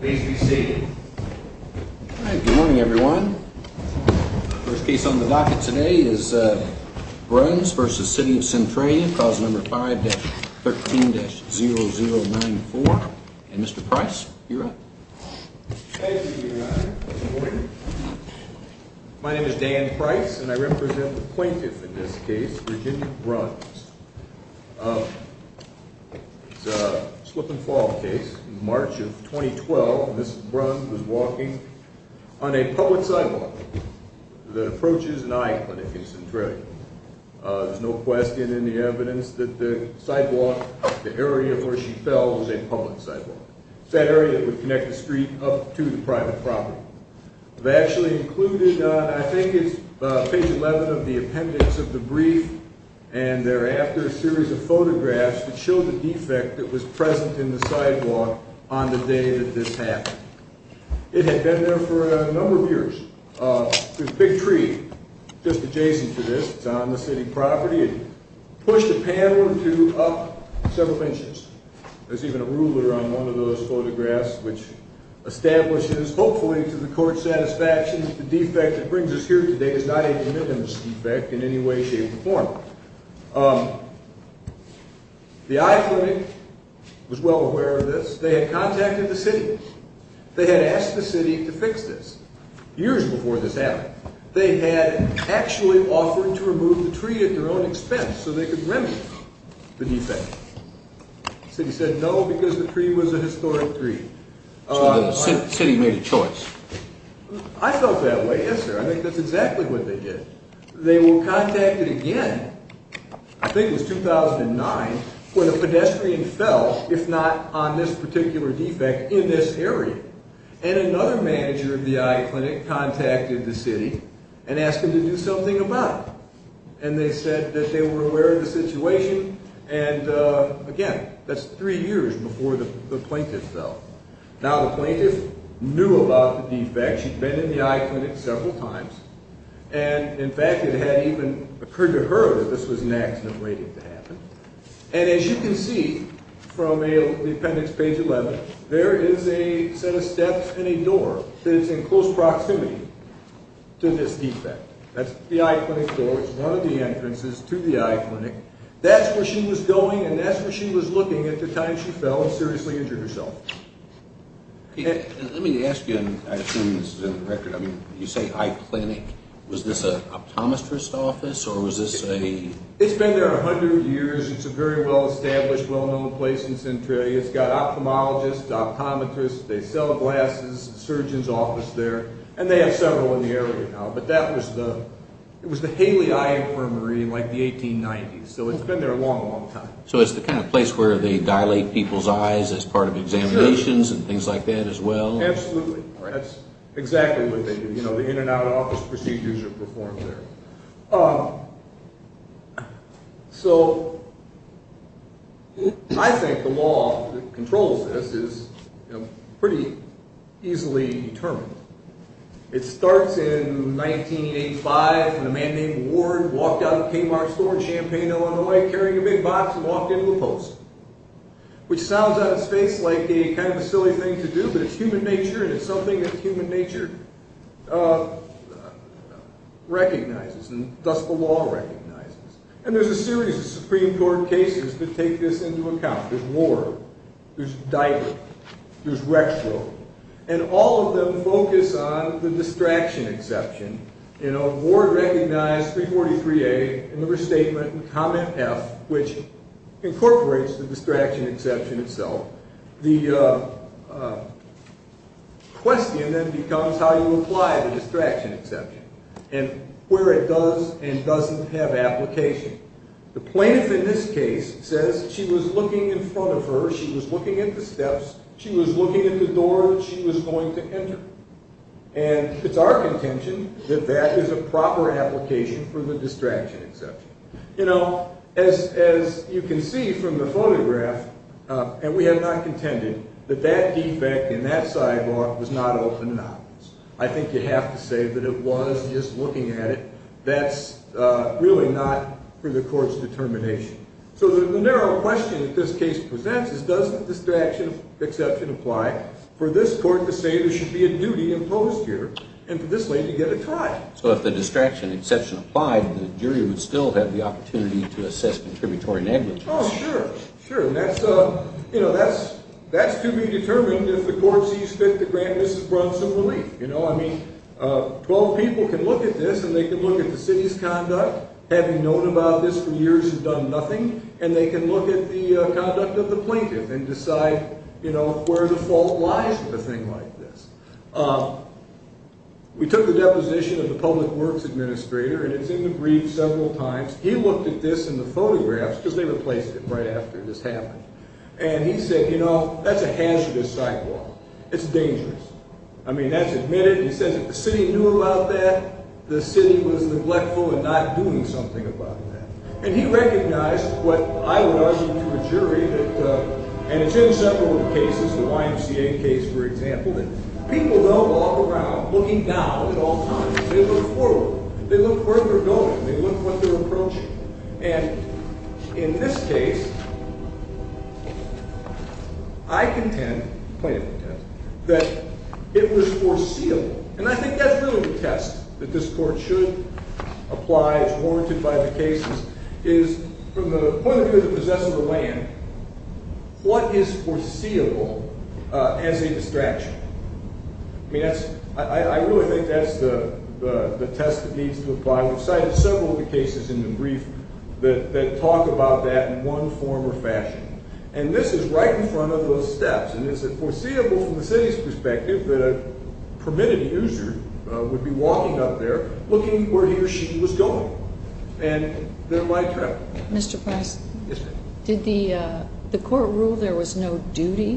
Please be seated. Good morning, everyone. The first case on the docket today is Bruns v. City of Centralia, Clause No. 5-13-0094. And Mr. Price, you're up. Thank you, Your Honor. Good morning. My name is Dan Price, and I represent the plaintiff in this case, Virginia Bruns. It's a slip-and-fall case. In March of 2012, Mrs. Bruns was walking on a public sidewalk that approaches an eye clinic in Centralia. There's no question in the evidence that the sidewalk, the area where she fell, was a public sidewalk. It's that area that would connect the street up to the private property. I've actually included, I think it's page 11 of the appendix of the brief, and thereafter a series of photographs that show the defect that was present in the sidewalk on the day that this happened. It had been there for a number of years. There's a big tree just adjacent to this. It's on the city property. It pushed a panel or two up several inches. There's even a ruler on one of those photographs, which establishes, hopefully to the court's satisfaction, the defect that brings us here today is not a de minimis defect in any way, shape, or form. The eye clinic was well aware of this. They had contacted the city. They had asked the city to fix this years before this happened. They had actually offered to remove the tree at their own expense so they could remedy the defect. The city said no because the tree was a historic tree. So the city made a choice. I felt that way, yes sir. I think that's exactly what they did. They were contacted again, I think it was 2009, when a pedestrian fell, if not on this particular defect, in this area. Another manager of the eye clinic contacted the city and asked them to do something about it. They said that they were aware of the situation. Again, that's three years before the plaintiff fell. Now the plaintiff knew about the defect. She'd been in the eye clinic several times. In fact, it had even occurred to her that this was an accident waiting to happen. And as you can see from the appendix, page 11, there is a set of steps and a door that is in close proximity to this defect. That's the eye clinic door. It's one of the entrances to the eye clinic. That's where she was going and that's where she was looking at the time she fell and seriously injured herself. Let me ask you, I assume this is in the record, you say eye clinic. Was this an optometrist office or was this a... It's been there 100 years. It's a very well-established, well-known place in Centralia. It's got ophthalmologists, optometrists, they sell glasses, a surgeon's office there, and they have several in the area now. But that was the Haley Eye Infirmary in like the 1890s, so it's been there a long, long time. So it's the kind of place where they dilate people's eyes as part of examinations and things like that as well? Absolutely. That's exactly what they do. The in-and-out office procedures are performed there. So I think the law that controls this is pretty easily determined. It starts in 1985 when a man named Ward walked out of the Kmart store in Champaign, Illinois, carrying a big box and walked into the post, which sounds out of space like kind of a silly thing to do, but it's human nature, and it's something that human nature recognizes, and thus the law recognizes. And there's a series of Supreme Court cases that take this into account. There's Ward. There's Diver. There's Rexville. And all of them focus on the distraction exception. You know, Ward recognized 343A in the restatement and comment F, which incorporates the distraction exception itself. The question then becomes how you apply the distraction exception and where it does and doesn't have application. The plaintiff in this case says she was looking in front of her. She was looking at the steps. She was looking at the door she was going to enter. And it's our contention that that is a proper application for the distraction exception. You know, as you can see from the photograph, and we have not contended, that that defect in that sidebar was not open anomalous. I think you have to say that it was just looking at it. That's really not for the court's determination. So the narrow question that this case presents is does the distraction exception apply for this court to say there should be a duty imposed here, and for this lady to get a try? So if the distraction exception applied, the jury would still have the opportunity to assess contributory negligence. Oh, sure, sure. And that's to be determined if the court sees fit to grant Mrs. Brunson relief. I mean, 12 people can look at this, and they can look at the city's conduct, having known about this for years and done nothing, and they can look at the conduct of the plaintiff and decide where the fault lies with a thing like this. We took a deposition of the public works administrator, and it's in the brief several times. He looked at this in the photographs, because they replaced it right after this happened, and he said, you know, that's a hazardous sidewalk. It's dangerous. I mean, that's admitted. He says if the city knew about that, the city was neglectful in not doing something about that. And he recognized what I would argue to a jury that, and it's in several cases, the YMCA case, for example, that people don't walk around looking down at all times. They look forward. They look where they're going. They look what they're approaching. And in this case, I contend, the plaintiff contends, that it was foreseeable, and I think that's really the test that this court should apply as warranted by the cases, is from the point of view of the possessor of the land, what is foreseeable as a distraction? I mean, I really think that's the test that needs to apply. We've cited several of the cases in the brief that talk about that in one form or fashion, and this is right in front of those steps, and it's foreseeable from the city's perspective that a permitted user would be walking up there looking where he or she was going. And there might have been. Mr. Price? Yes, ma'am. Did the court rule there was no duty?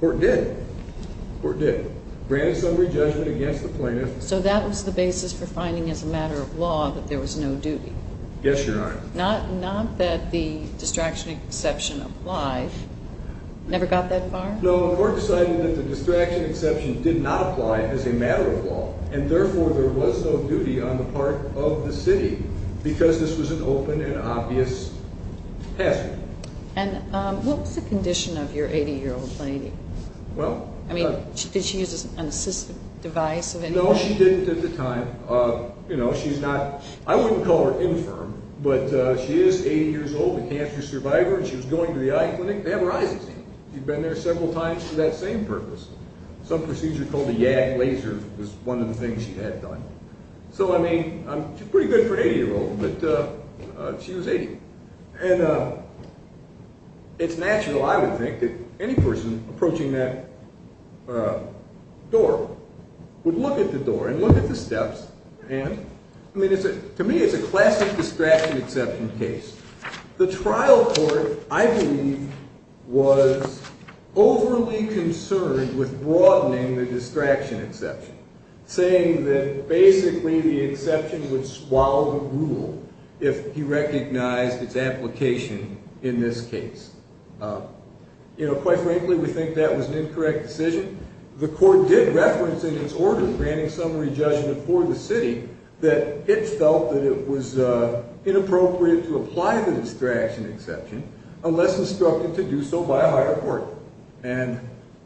The court did. The court did. Granted summary judgment against the plaintiff. So that was the basis for finding as a matter of law that there was no duty? Yes, Your Honor. Not that the distraction exception applied. Never got that far? No, the court decided that the distraction exception did not apply as a matter of law, and therefore there was no duty on the part of the city because this was an open and obvious hazard. And what was the condition of your 80-year-old lady? Well. I mean, did she use an assistive device of any kind? No, she didn't at the time. You know, she's not ñ I wouldn't call her infirm, but she is 80 years old, a cancer survivor, and she was going to the eye clinic. They have her eyes examined. She'd been there several times for that same purpose. Some procedure called a YAG laser was one of the things she had done. So, I mean, she's pretty good for an 80-year-old, but she was 80. And it's natural, I would think, that any person approaching that door would look at the door and look at the steps. And, I mean, to me it's a classic distraction exception case. The trial court, I believe, was overly concerned with broadening the distraction exception, saying that basically the exception would swallow the rule if he recognized its application in this case. You know, quite frankly, we think that was an incorrect decision. The court did reference in its order, granting summary judgment for the city, that it felt that it was inappropriate to apply the distraction exception unless instructed to do so by a higher court. And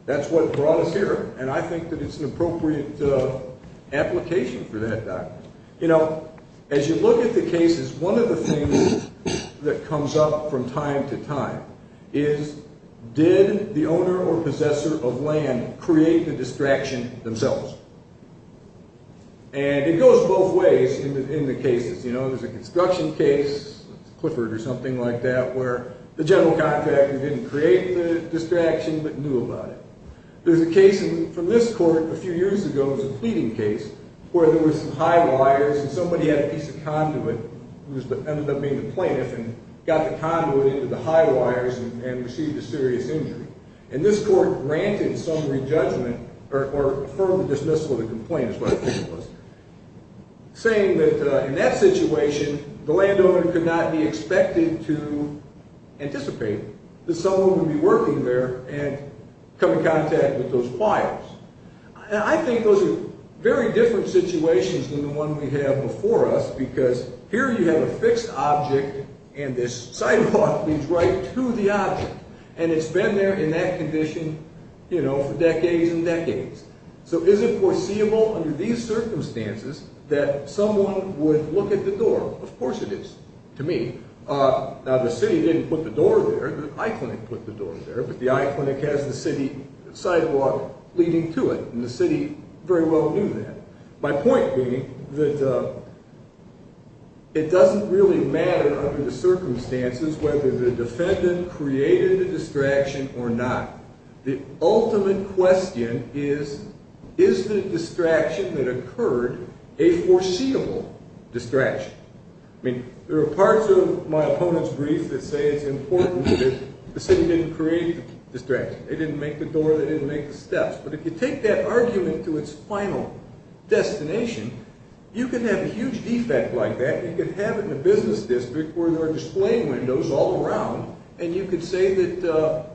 that's what brought us here, and I think that it's an appropriate application for that document. You know, as you look at the cases, one of the things that comes up from time to time is, did the owner or possessor of land create the distraction themselves? And it goes both ways in the cases. You know, there's a construction case, Clifford or something like that, where the general contractor didn't create the distraction but knew about it. There's a case from this court a few years ago, it was a pleading case, where there was some high wires and somebody had a piece of conduit, who ended up being the plaintiff, and got the conduit into the high wires and received a serious injury. And this court granted summary judgment, or further dismissal of the complaint is what I think it was, saying that in that situation, the landowner could not be expected to anticipate that someone would be working there and come in contact with those wires. And I think those are very different situations than the one we have before us, because here you have a fixed object, and this sidewalk leads right to the object. And it's been there in that condition, you know, for decades and decades. So is it foreseeable under these circumstances that someone would look at the door? Of course it is, to me. Now the city didn't put the door there, the eye clinic put the door there, but the eye clinic has the city sidewalk leading to it, and the city very well knew that. My point being that it doesn't really matter under the circumstances whether the defendant created a distraction or not. The ultimate question is, is the distraction that occurred a foreseeable distraction? I mean, there are parts of my opponent's brief that say it's important that the city didn't create the distraction. They didn't make the door, they didn't make the steps. But if you take that argument to its final destination, you can have a huge defect like that. You could have it in a business district where there are display windows all around, and you could say that,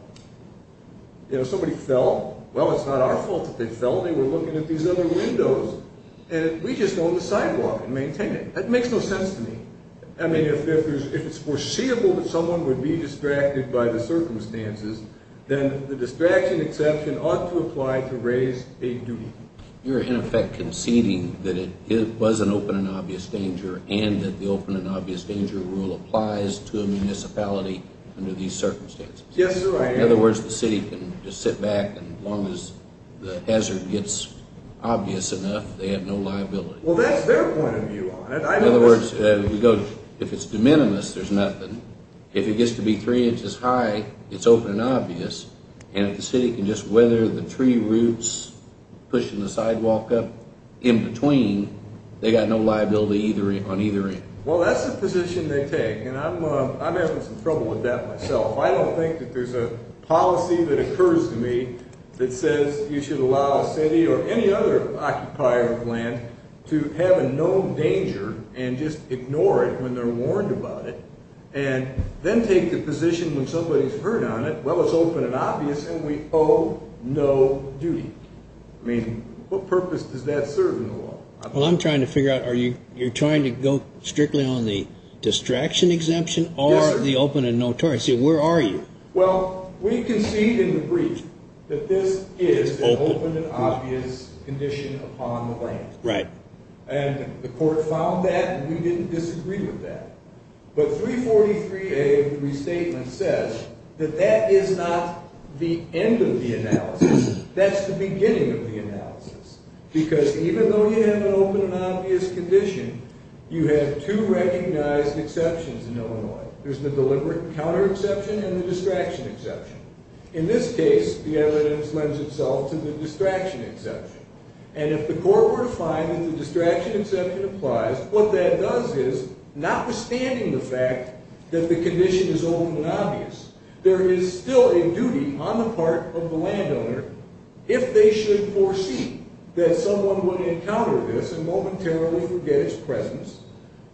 you know, somebody fell. Well, it's not our fault that they fell. They were looking at these other windows. And we just own the sidewalk and maintain it. That makes no sense to me. I mean, if it's foreseeable that someone would be distracted by the circumstances, then the distraction exception ought to apply to raise a duty. You're, in effect, conceding that it was an open and obvious danger and that the open and obvious danger rule applies to a municipality under these circumstances. Yes, I am. In other words, the city can just sit back, and as long as the hazard gets obvious enough, they have no liability. Well, that's their point of view on it. In other words, if it's de minimis, there's nothing. If it gets to be three inches high, it's open and obvious. And if the city can just weather the tree roots pushing the sidewalk up in between, they've got no liability on either end. Well, that's the position they take, and I'm having some trouble with that myself. I don't think that there's a policy that occurs to me that says you should allow a city or any other occupier of land to have a known danger and just ignore it when they're warned about it and then take the position when somebody's heard on it, well, it's open and obvious, and we owe no duty. I mean, what purpose does that serve in the law? Well, I'm trying to figure out, you're trying to go strictly on the distraction exemption or the open and notorious? Yes, sir. Where are you? Well, we concede in the brief that this is an open and obvious condition upon the land. Right. And the court found that, and we didn't disagree with that. But 343A of the restatement says that that is not the end of the analysis. That's the beginning of the analysis, because even though you have an open and obvious condition, you have two recognized exceptions in Illinois. There's the deliberate counter exception and the distraction exception. In this case, the evidence lends itself to the distraction exception. And if the court were to find that the distraction exception applies, what that does is, notwithstanding the fact that the condition is open and obvious, there is still a duty on the part of the landowner if they should foresee that someone would encounter this and momentarily forget its presence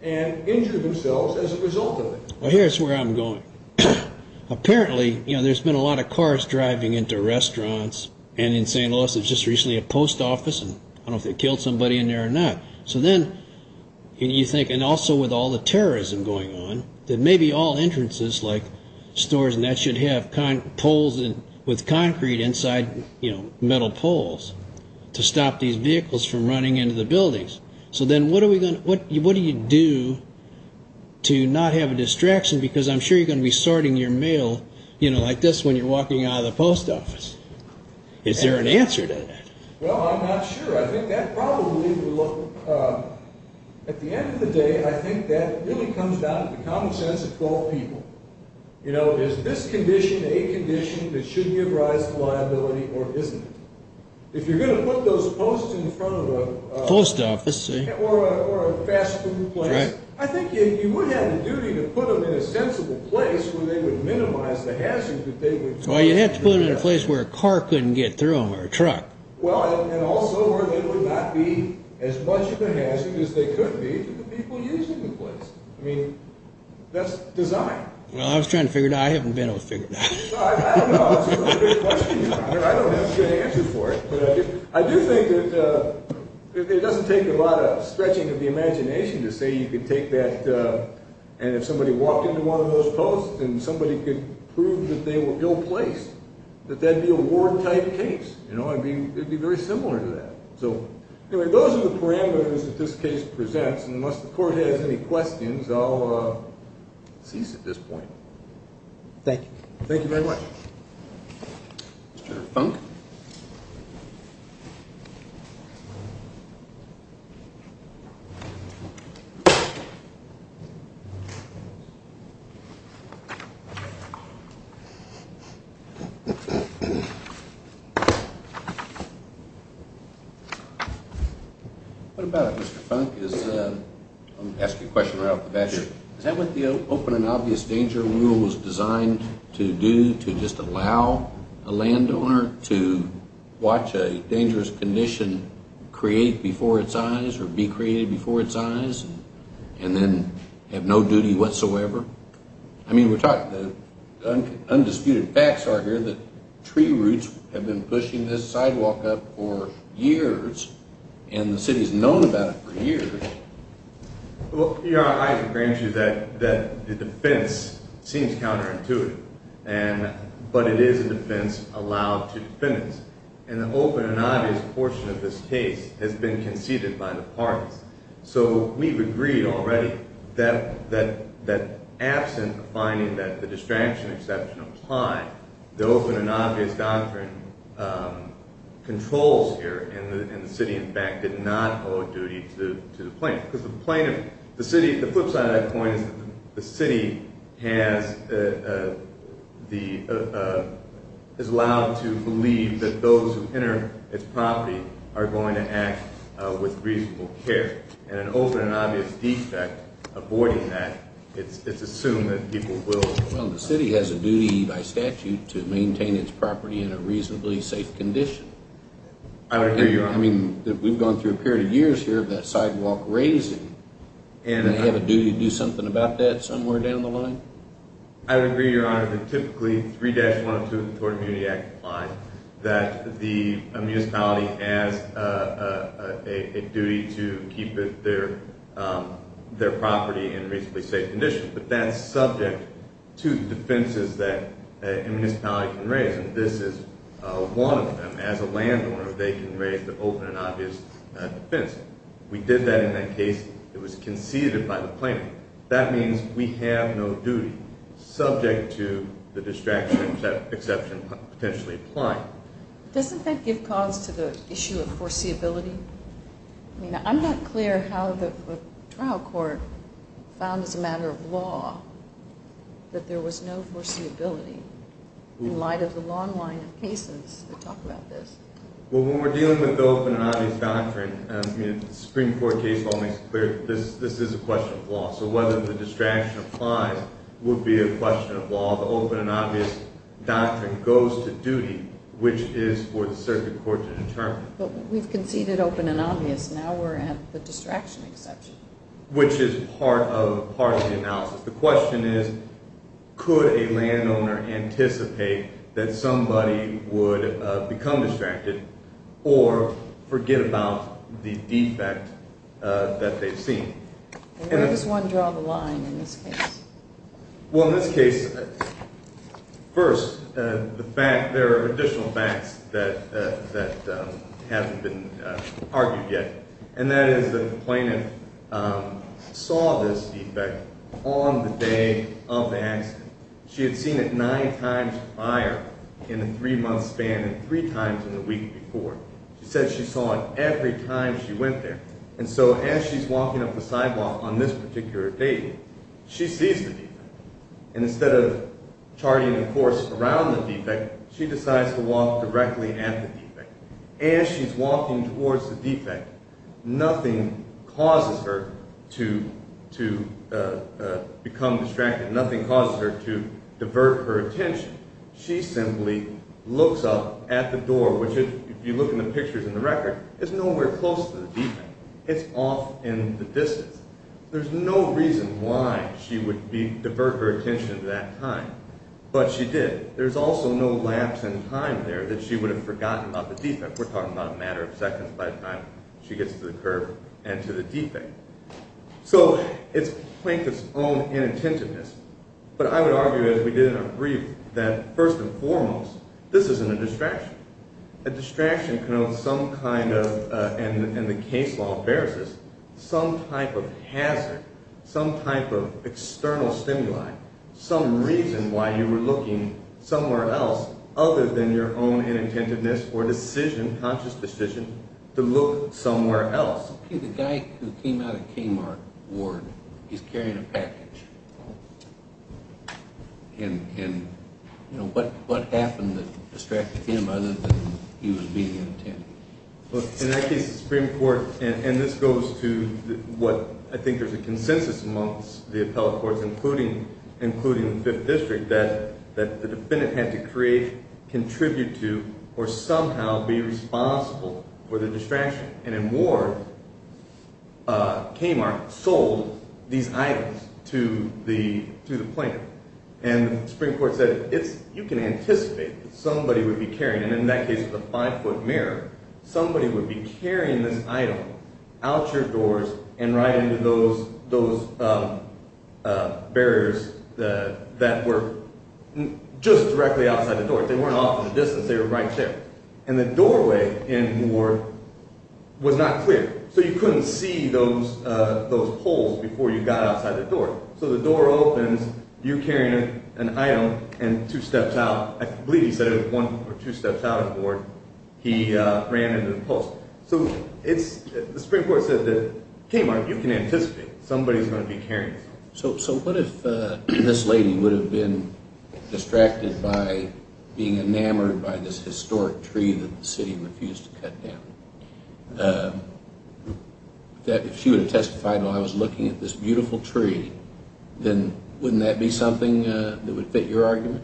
and injure themselves as a result of it. Well, here's where I'm going. Apparently, you know, there's been a lot of cars driving into restaurants, and in St. Louis there was just recently a post office, and I don't know if they killed somebody in there or not. So then you think, and also with all the terrorism going on, that maybe all entrances like stores and that should have poles with concrete inside, you know, metal poles to stop these vehicles from running into the buildings. So then what do you do to not have a distraction, because I'm sure you're going to be sorting your mail, you know, like this when you're walking out of the post office. Is there an answer to that? Well, I'm not sure. I think that probably would look, at the end of the day, I think that really comes down to the common sense of all people. You know, is this condition a condition that should give rise to liability or isn't it? If you're going to put those posts in front of a post office or a fast food place, I think you would have the duty to put them in a sensible place where they would minimize the hazards that they would pose. Well, you'd have to put it in a place where a car couldn't get through them or a truck. Well, and also where there would not be as much of a hazard as there could be to the people using the place. I mean, that's design. Well, I was trying to figure it out. I haven't been able to figure it out. I don't know. That's a really good question, Your Honor. I don't have a good answer for it. But I do think that it doesn't take a lot of stretching of the imagination to say you could take that and if somebody walked into one of those posts and somebody could prove that they were ill-placed, that that would be a war-type case. You know, I mean, it would be very similar to that. So, anyway, those are the parameters that this case presents. And unless the Court has any questions, I'll cease at this point. Thank you. Thank you very much. Mr. Funk? What about it, Mr. Funk? I'm going to ask you a question right off the bat here. Is that what the open and obvious danger rule was designed to do, to just allow a landowner to watch a dangerous condition create before its eyes or be created before its eyes and then have no duty whatsoever? I mean, the undisputed facts are here that tree roots have been pushing this sidewalk up for years and the city has known about it for years. Well, Your Honor, I agree with you that the defense seems counterintuitive, but it is a defense allowed to defendants. And the open and obvious portion of this case has been conceded by the parties. So we've agreed already that absent finding that the distraction exception was high, the open and obvious doctrine controls here and the city, in fact, did not owe a duty to the plaintiff. The flip side of that point is that the city is allowed to believe that those who enter its property are going to act with reasonable care. And an open and obvious defect, avoiding that, it's assumed that people will. Well, the city has a duty by statute to maintain its property in a reasonably safe condition. I would agree, Your Honor. I mean, we've gone through a period of years here of that sidewalk raising, and they have a duty to do something about that somewhere down the line? I would agree, Your Honor, that typically 3-102 of the Tort Immunity Act implies that the municipality has a duty to keep their property in reasonably safe condition. But that's subject to defenses that a municipality can raise. And this is one of them. As a landowner, they can raise the open and obvious defense. We did that in that case. It was conceded by the plaintiff. That means we have no duty subject to the distraction exception potentially applying. Doesn't that give cause to the issue of foreseeability? I mean, I'm not clear how the trial court found as a matter of law that there was no foreseeability in light of the long line of cases that talk about this. Well, when we're dealing with the open and obvious doctrine, I mean, Supreme Court case law makes it clear that this is a question of law. So whether the distraction applies would be a question of law. The open and obvious doctrine goes to duty, which is for the circuit court to determine. But we've conceded open and obvious. Now we're at the distraction exception. Which is part of the analysis. The question is, could a landowner anticipate that somebody would become distracted or forget about the defect that they've seen? Where does one draw the line in this case? Well, in this case, first, there are additional facts that haven't been argued yet. And that is that the plaintiff saw this defect on the day of the accident. She had seen it nine times prior in the three-month span and three times in the week before. She said she saw it every time she went there. And so as she's walking up the sidewalk on this particular day, she sees the defect. And instead of charting a course around the defect, she decides to walk directly at the defect. As she's walking towards the defect, nothing causes her to become distracted. Nothing causes her to divert her attention. She simply looks up at the door, which if you look in the pictures in the record, is nowhere close to the defect. It's off in the distance. There's no reason why she would divert her attention to that time. But she did. There's also no lapse in time there that she would have forgotten about the defect. We're talking about a matter of seconds by the time she gets to the curb and to the defect. So it's the plaintiff's own inattentiveness. But I would argue, as we did in our brief, that first and foremost, this isn't a distraction. A distraction connotes some kind of, and the case law bears this, some type of hazard, some type of external stimuli, some reason why you were looking somewhere else other than your own inattentiveness or decision, conscious decision, to look somewhere else. Okay, the guy who came out of Kmart Ward, he's carrying a package. And what happened that distracted him other than he was being inattentive? Look, in that case, the Supreme Court, and this goes to what I think is a consensus amongst the appellate courts, including the Fifth District, that the defendant had to create, contribute to, or somehow be responsible for the distraction. And in Ward, Kmart sold these items to the plaintiff. And the Supreme Court said, you can anticipate that somebody would be carrying them. In that case, it was a five-foot mirror. Somebody would be carrying this item out your doors and right into those barriers that were just directly outside the door. If they weren't off in the distance, they were right there. And the doorway in Ward was not clear, so you couldn't see those holes before you got outside the door. So the door opens, you're carrying an item, and two steps out, I believe he said it was one or two steps out of Ward, he ran into the post. So the Supreme Court said to Kmart, you can anticipate somebody's going to be carrying this. So what if this lady would have been distracted by being enamored by this historic tree that the city refused to cut down? If she would have testified while I was looking at this beautiful tree, then wouldn't that be something that would fit your argument?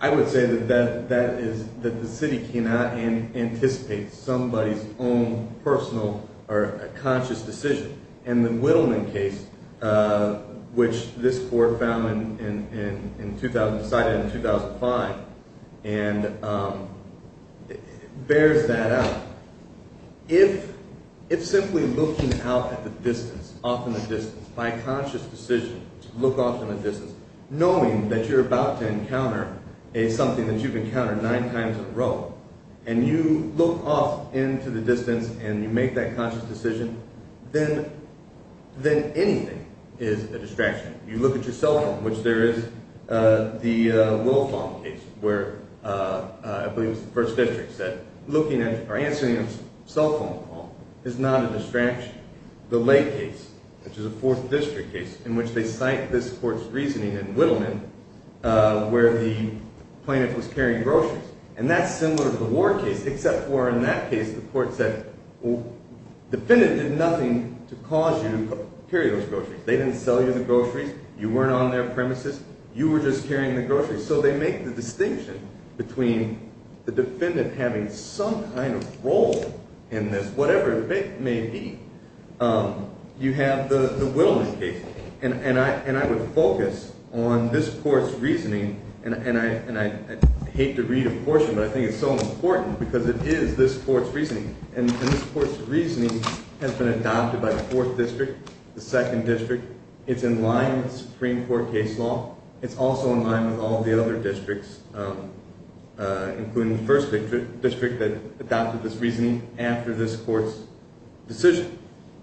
I would say that the city cannot anticipate somebody's own personal or conscious decision. And the Whittleman case, which this court decided in 2005, bears that out. If simply looking out at the distance, off in the distance, by conscious decision, look off in the distance, knowing that you're about to encounter something that you've encountered nine times in a row, and you look off into the distance and you make that conscious decision, then anything is a distraction. You look at your cell phone, which there is the Wilfong case, where I believe it was the 1st District, that looking at or answering a cell phone call is not a distraction. The Lake case, which is a 4th District case, in which they cite this court's reasoning in Whittleman, where the plaintiff was carrying groceries. And that's similar to the Ward case, except for in that case the court said, well, the defendant did nothing to cause you to carry those groceries. They didn't sell you the groceries, you weren't on their premises, you were just carrying the groceries. So they make the distinction between the defendant having some kind of role in this, whatever it may be. You have the Whittleman case, and I would focus on this court's reasoning, and I hate to read a portion, but I think it's so important because it is this court's reasoning. And this court's reasoning has been adopted by the 4th District, the 2nd District. It's in line with Supreme Court case law. It's also in line with all the other districts, including the 1st District, that adopted this reasoning after this court's decision.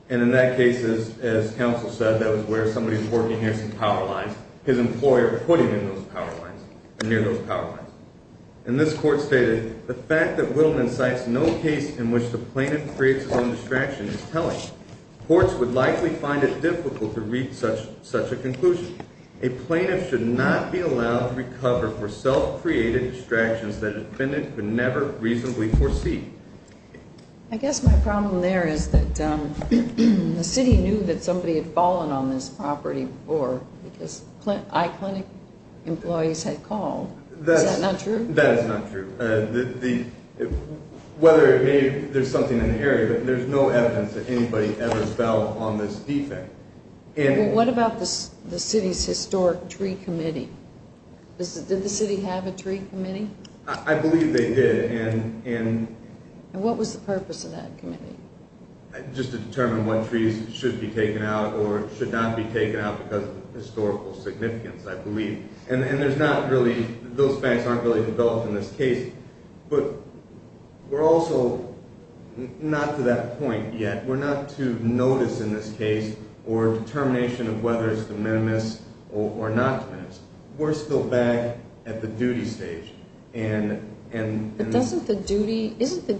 And in that case, as counsel said, that was where somebody was working near some power lines. His employer put him in those power lines, or near those power lines. And this court stated, The fact that Whittleman cites no case in which the plaintiff creates his own distraction is telling. Courts would likely find it difficult to reach such a conclusion. A plaintiff should not be allowed to recover for self-created distractions that a defendant could never reasonably foresee. I guess my problem there is that the city knew that somebody had fallen on this property before, because iClinic employees had called. Is that not true? That is not true. Whether it may be there's something in the area, but there's no evidence that anybody ever fell on this defect. What about the city's historic tree committee? Did the city have a tree committee? I believe they did. And what was the purpose of that committee? Just to determine what trees should be taken out or should not be taken out because of historical significance, I believe. And those facts aren't really developed in this case. But we're also not to that point yet. We're not to notice in this case or determination of whether it's de minimis or not de minimis. We're still back at the duty stage. But isn't the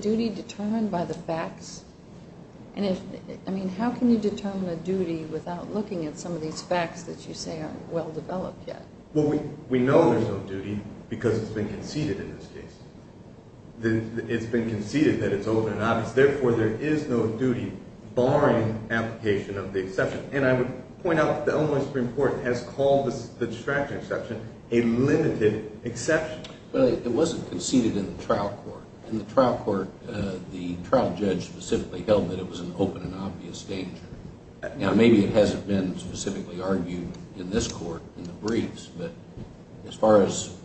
duty determined by the facts? I mean, how can you determine a duty without looking at some of these facts that you say aren't well developed yet? Well, we know there's no duty because it's been conceded in this case. It's been conceded that it's open and obvious. Therefore, there is no duty barring application of the exception. And I would point out that the Illinois Supreme Court has called the distraction exception a limited exception. Well, it wasn't conceded in the trial court. In the trial court, the trial judge specifically held that it was an open and obvious danger. Now, maybe it hasn't been specifically argued in this court in the briefs, but as far as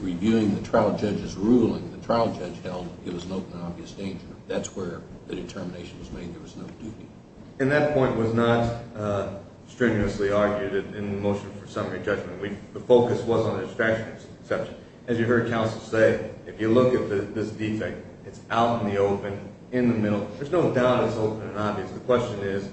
reviewing the trial judge's ruling, the trial judge held it was an open and obvious danger. That's where the determination was made there was no duty. And that point was not strenuously argued in the motion for summary judgment. The focus was on the distraction exception. As you heard counsel say, if you look at this defect, it's out in the open, in the middle. There's no doubt it's open and obvious. The question is,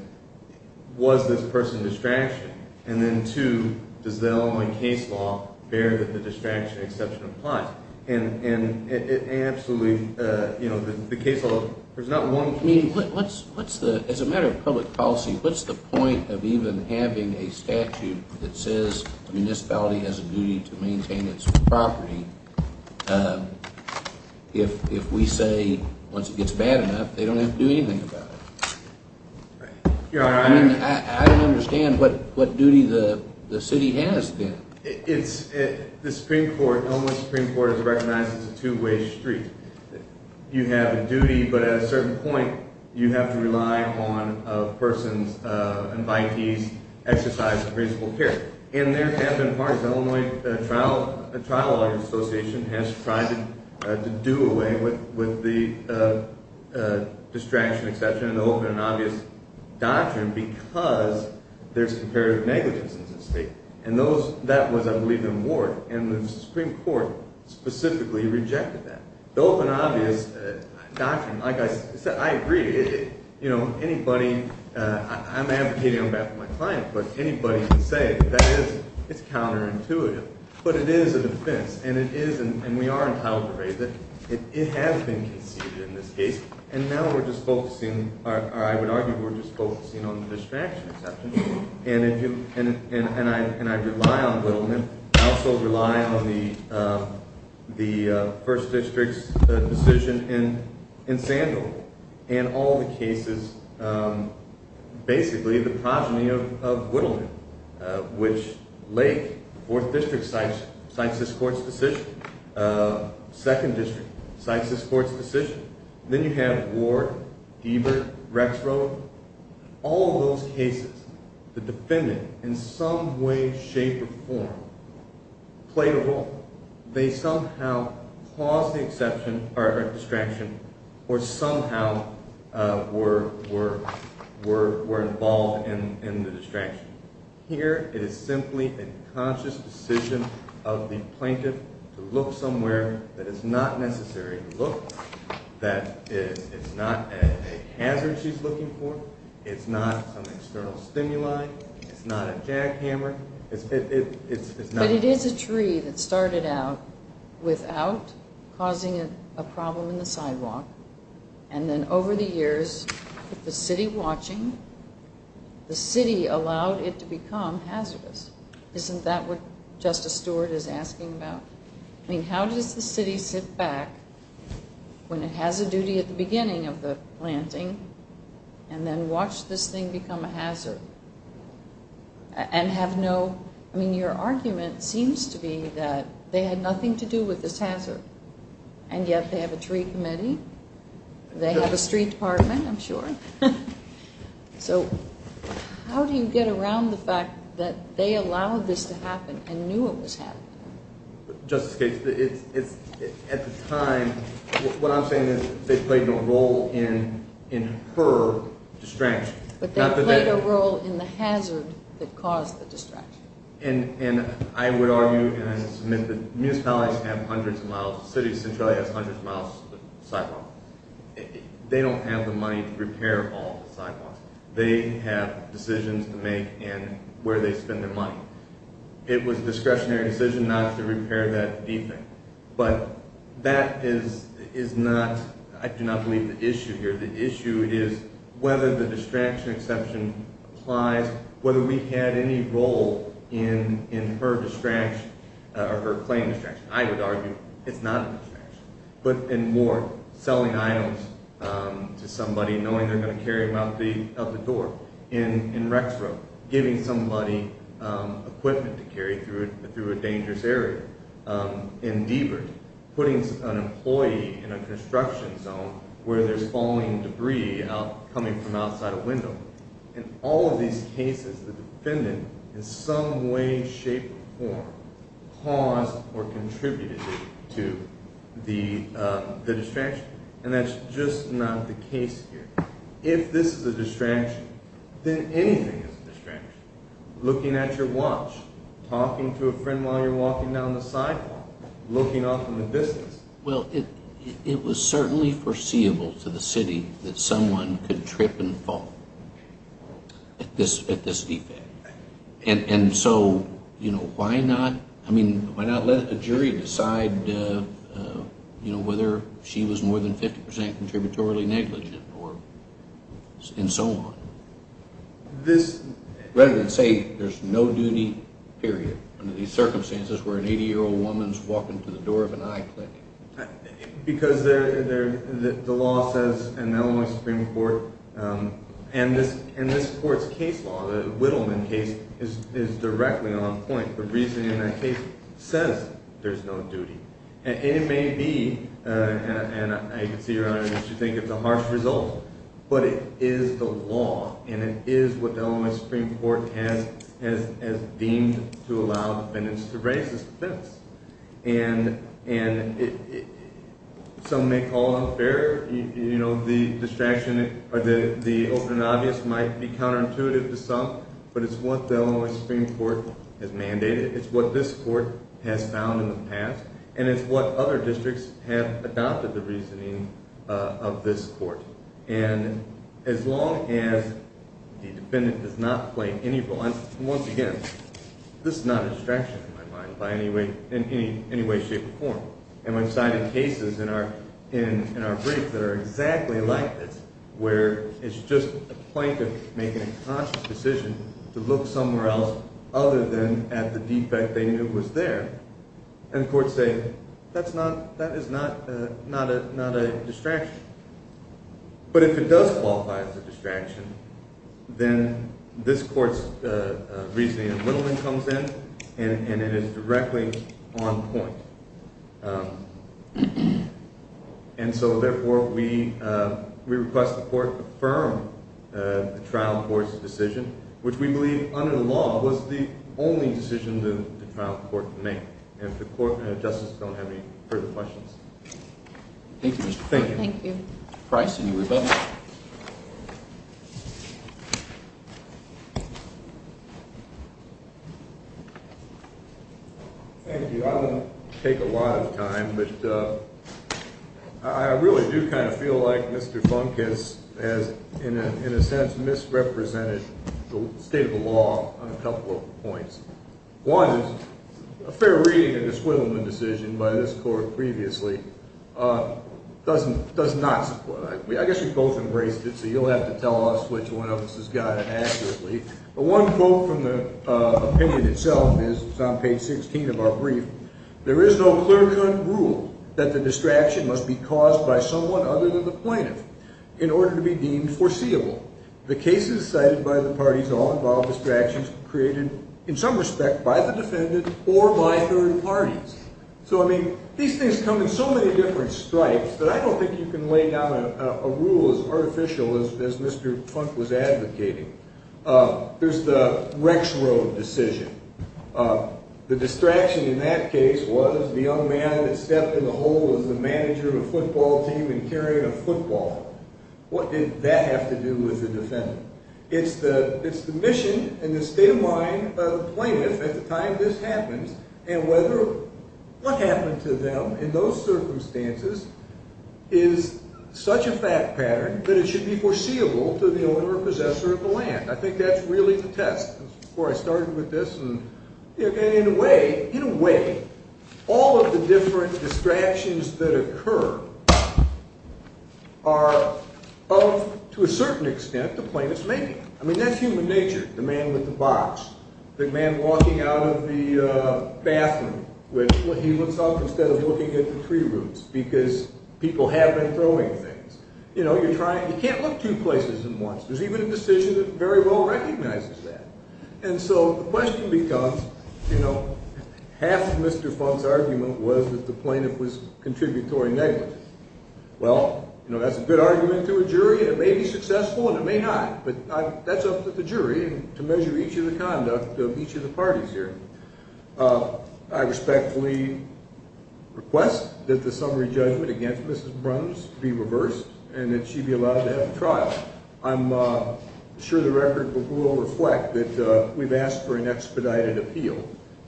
was this person a distraction? And then two, does the Illinois case law bear that the distraction exception applies? Absolutely. The case law, there's not one. As a matter of public policy, what's the point of even having a statute that says a municipality has a duty to maintain its property if we say once it gets bad enough, they don't have to do anything about it? I don't understand what duty the city has then. The Illinois Supreme Court has recognized it's a two-way street. You have a duty, but at a certain point, you have to rely on a person's invitees, exercise of reasonable care. And there have been parties. The Illinois Trial Lawyers Association has tried to do away with the distraction exception, an open and obvious doctrine, because there's comparative negligence in this case. And that was, I believe, in the ward. And the Supreme Court specifically rejected that. The open and obvious doctrine, like I said, I agree. Anybody – I'm advocating on behalf of my client, but anybody can say that it's counterintuitive. But it is a defense, and it is – and we are entitled to raise it. It has been conceded in this case. And now we're just focusing – or I would argue we're just focusing on the distraction exception. And I rely on Whittleman. I also rely on the 1st District's decision in Sandville and all the cases, basically the progeny of Whittleman, which Lake, 4th District, cites this court's decision. 2nd District cites this court's decision. Then you have Ward, Deibert, Rexroad. All of those cases, the defendant in some way, shape, or form played a role. They somehow caused the exception or distraction or somehow were involved in the distraction. Here it is simply a conscious decision of the plaintiff to look somewhere that is not necessary to look. That it's not a hazard she's looking for. It's not some external stimuli. It's not a jackhammer. But it is a tree that started out without causing a problem in the sidewalk. And then over the years, with the city watching, the city allowed it to become hazardous. Isn't that what Justice Stewart is asking about? I mean, how does the city sit back when it has a duty at the beginning of the planting and then watch this thing become a hazard and have no... I mean, your argument seems to be that they had nothing to do with this hazard. And yet they have a tree committee. They have a street department, I'm sure. So how do you get around the fact that they allowed this to happen and knew it was happening? Justice Gates, at the time, what I'm saying is they played a role in her distraction. But they played a role in the hazard that caused the distraction. And I would argue and submit that municipalities have hundreds of miles. The city of Centralia has hundreds of miles of sidewalk. They don't have the money to repair all the sidewalks. They have decisions to make and where they spend their money. It was a discretionary decision not to repair that D thing. But that is not, I do not believe, the issue here. The issue is whether the distraction exception applies, whether we had any role in her distraction or her claim distraction. I would argue it's not a distraction. But, and more, selling items to somebody, knowing they're going to carry them out the door. In Rexborough, giving somebody equipment to carry through a dangerous area. In Deaverton, putting an employee in a construction zone where there's falling debris coming from outside a window. In all of these cases, the defendant, in some way, shape, or form, caused or contributed to the distraction. And that's just not the case here. If this is a distraction, then anything is a distraction. Looking at your watch, talking to a friend while you're walking down the sidewalk, looking off in the distance. Well, it was certainly foreseeable to the city that someone could trip and fall at this defect. And so, you know, why not, I mean, why not let a jury decide, you know, whether she was more than 50% contributory negligent or, and so on. This, rather than say there's no duty, period, under these circumstances, where an 80-year-old woman's walking to the door of an iClick. Because the law says in the Illinois Supreme Court, and this court's case law, the Wittleman case, is directly on point. The reasoning in that case says there's no duty. And it may be, and I can see, Your Honor, that you think it's a harsh result, but it is the law, and it is what the Illinois Supreme Court has deemed to allow defendants to raise as defense. And some may call it unfair. You know, the distraction, or the open and obvious might be counterintuitive to some, but it's what the Illinois Supreme Court has mandated. It's what this court has found in the past, and it's what other districts have adopted the reasoning of this court. And as long as the defendant does not play any role, and once again, this is not a distraction, in my mind, in any way, shape, or form. And I've cited cases in our brief that are exactly like this, where it's just a plaintiff making a conscious decision to look somewhere else other than at the defect they knew was there. And the courts say, that is not a distraction. But if it does qualify as a distraction, then this court's reasoning comes in, and it is directly on point. And so, therefore, we request the court affirm the trial court's decision, which we believe, under the law, was the only decision the trial court could make. And if the court and the justice don't have any further questions. Thank you, Mr. Funk. Thank you. Thank you. Price, any rebuttal? Thank you. I won't take a lot of time, but I really do kind of feel like Mr. Funk has, in a sense, misrepresented the state of the law on a couple of points. One is, a fair reading of the Swindleman decision by this court previously does not support it. I guess you both embraced it, so you'll have to tell us which one of us has got it accurately. But one quote from the opinion itself is on page 16 of our brief. There is no clear-cut rule that the distraction must be caused by someone other than the plaintiff in order to be deemed foreseeable. The cases cited by the parties all involve distractions created, in some respect, by the defendant or by third parties. So, I mean, these things come in so many different stripes that I don't think you can lay down a rule as artificial as Mr. Funk was advocating. There's the Rex Road decision. The distraction in that case was the young man that stepped in the hole as the manager of a football team and carried a football. What did that have to do with the defendant? It's the mission and the state of mind of the plaintiff at the time this happens, and whether what happened to them in those circumstances is such a fact pattern that it should be foreseeable to the owner or possessor of the land. I think that's really the test. Before I started with this, in a way, all of the different distractions that occur are of, to a certain extent, the plaintiff's making. I mean, that's human nature, the man with the box, the man walking out of the bathroom when he looks up instead of looking at the tree roots because people have been throwing things. You know, you can't look two places at once. There's even a decision that very well recognizes that. And so the question becomes, you know, half of Mr. Funk's argument was that the plaintiff was contributory negligence. Well, you know, that's a good argument to a jury. It may be successful and it may not, but that's up to the jury to measure each of the conduct of each of the parties here. I respectfully request that the summary judgment against Mrs. Bruns be reversed and that she be allowed to have the trial. I'm sure the record will reflect that we've asked for an expedited appeal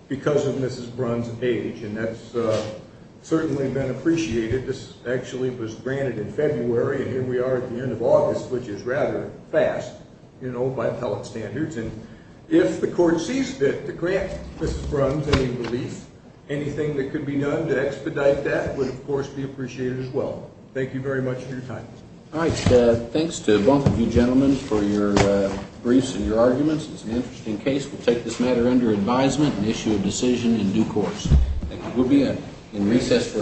because of Mrs. Bruns' age, and that's certainly been appreciated. This actually was granted in February, and here we are at the end of August, which is rather fast, you know, by appellate standards. And if the court sees fit to grant Mrs. Bruns any relief, anything that could be done to expedite that would, of course, be appreciated as well. Thank you very much for your time. All right. Thanks to both of you gentlemen for your briefs and your arguments. It's an interesting case. We'll take this matter under advisement and issue a decision in due course. Thank you. We'll be in recess for a few moments. All rise.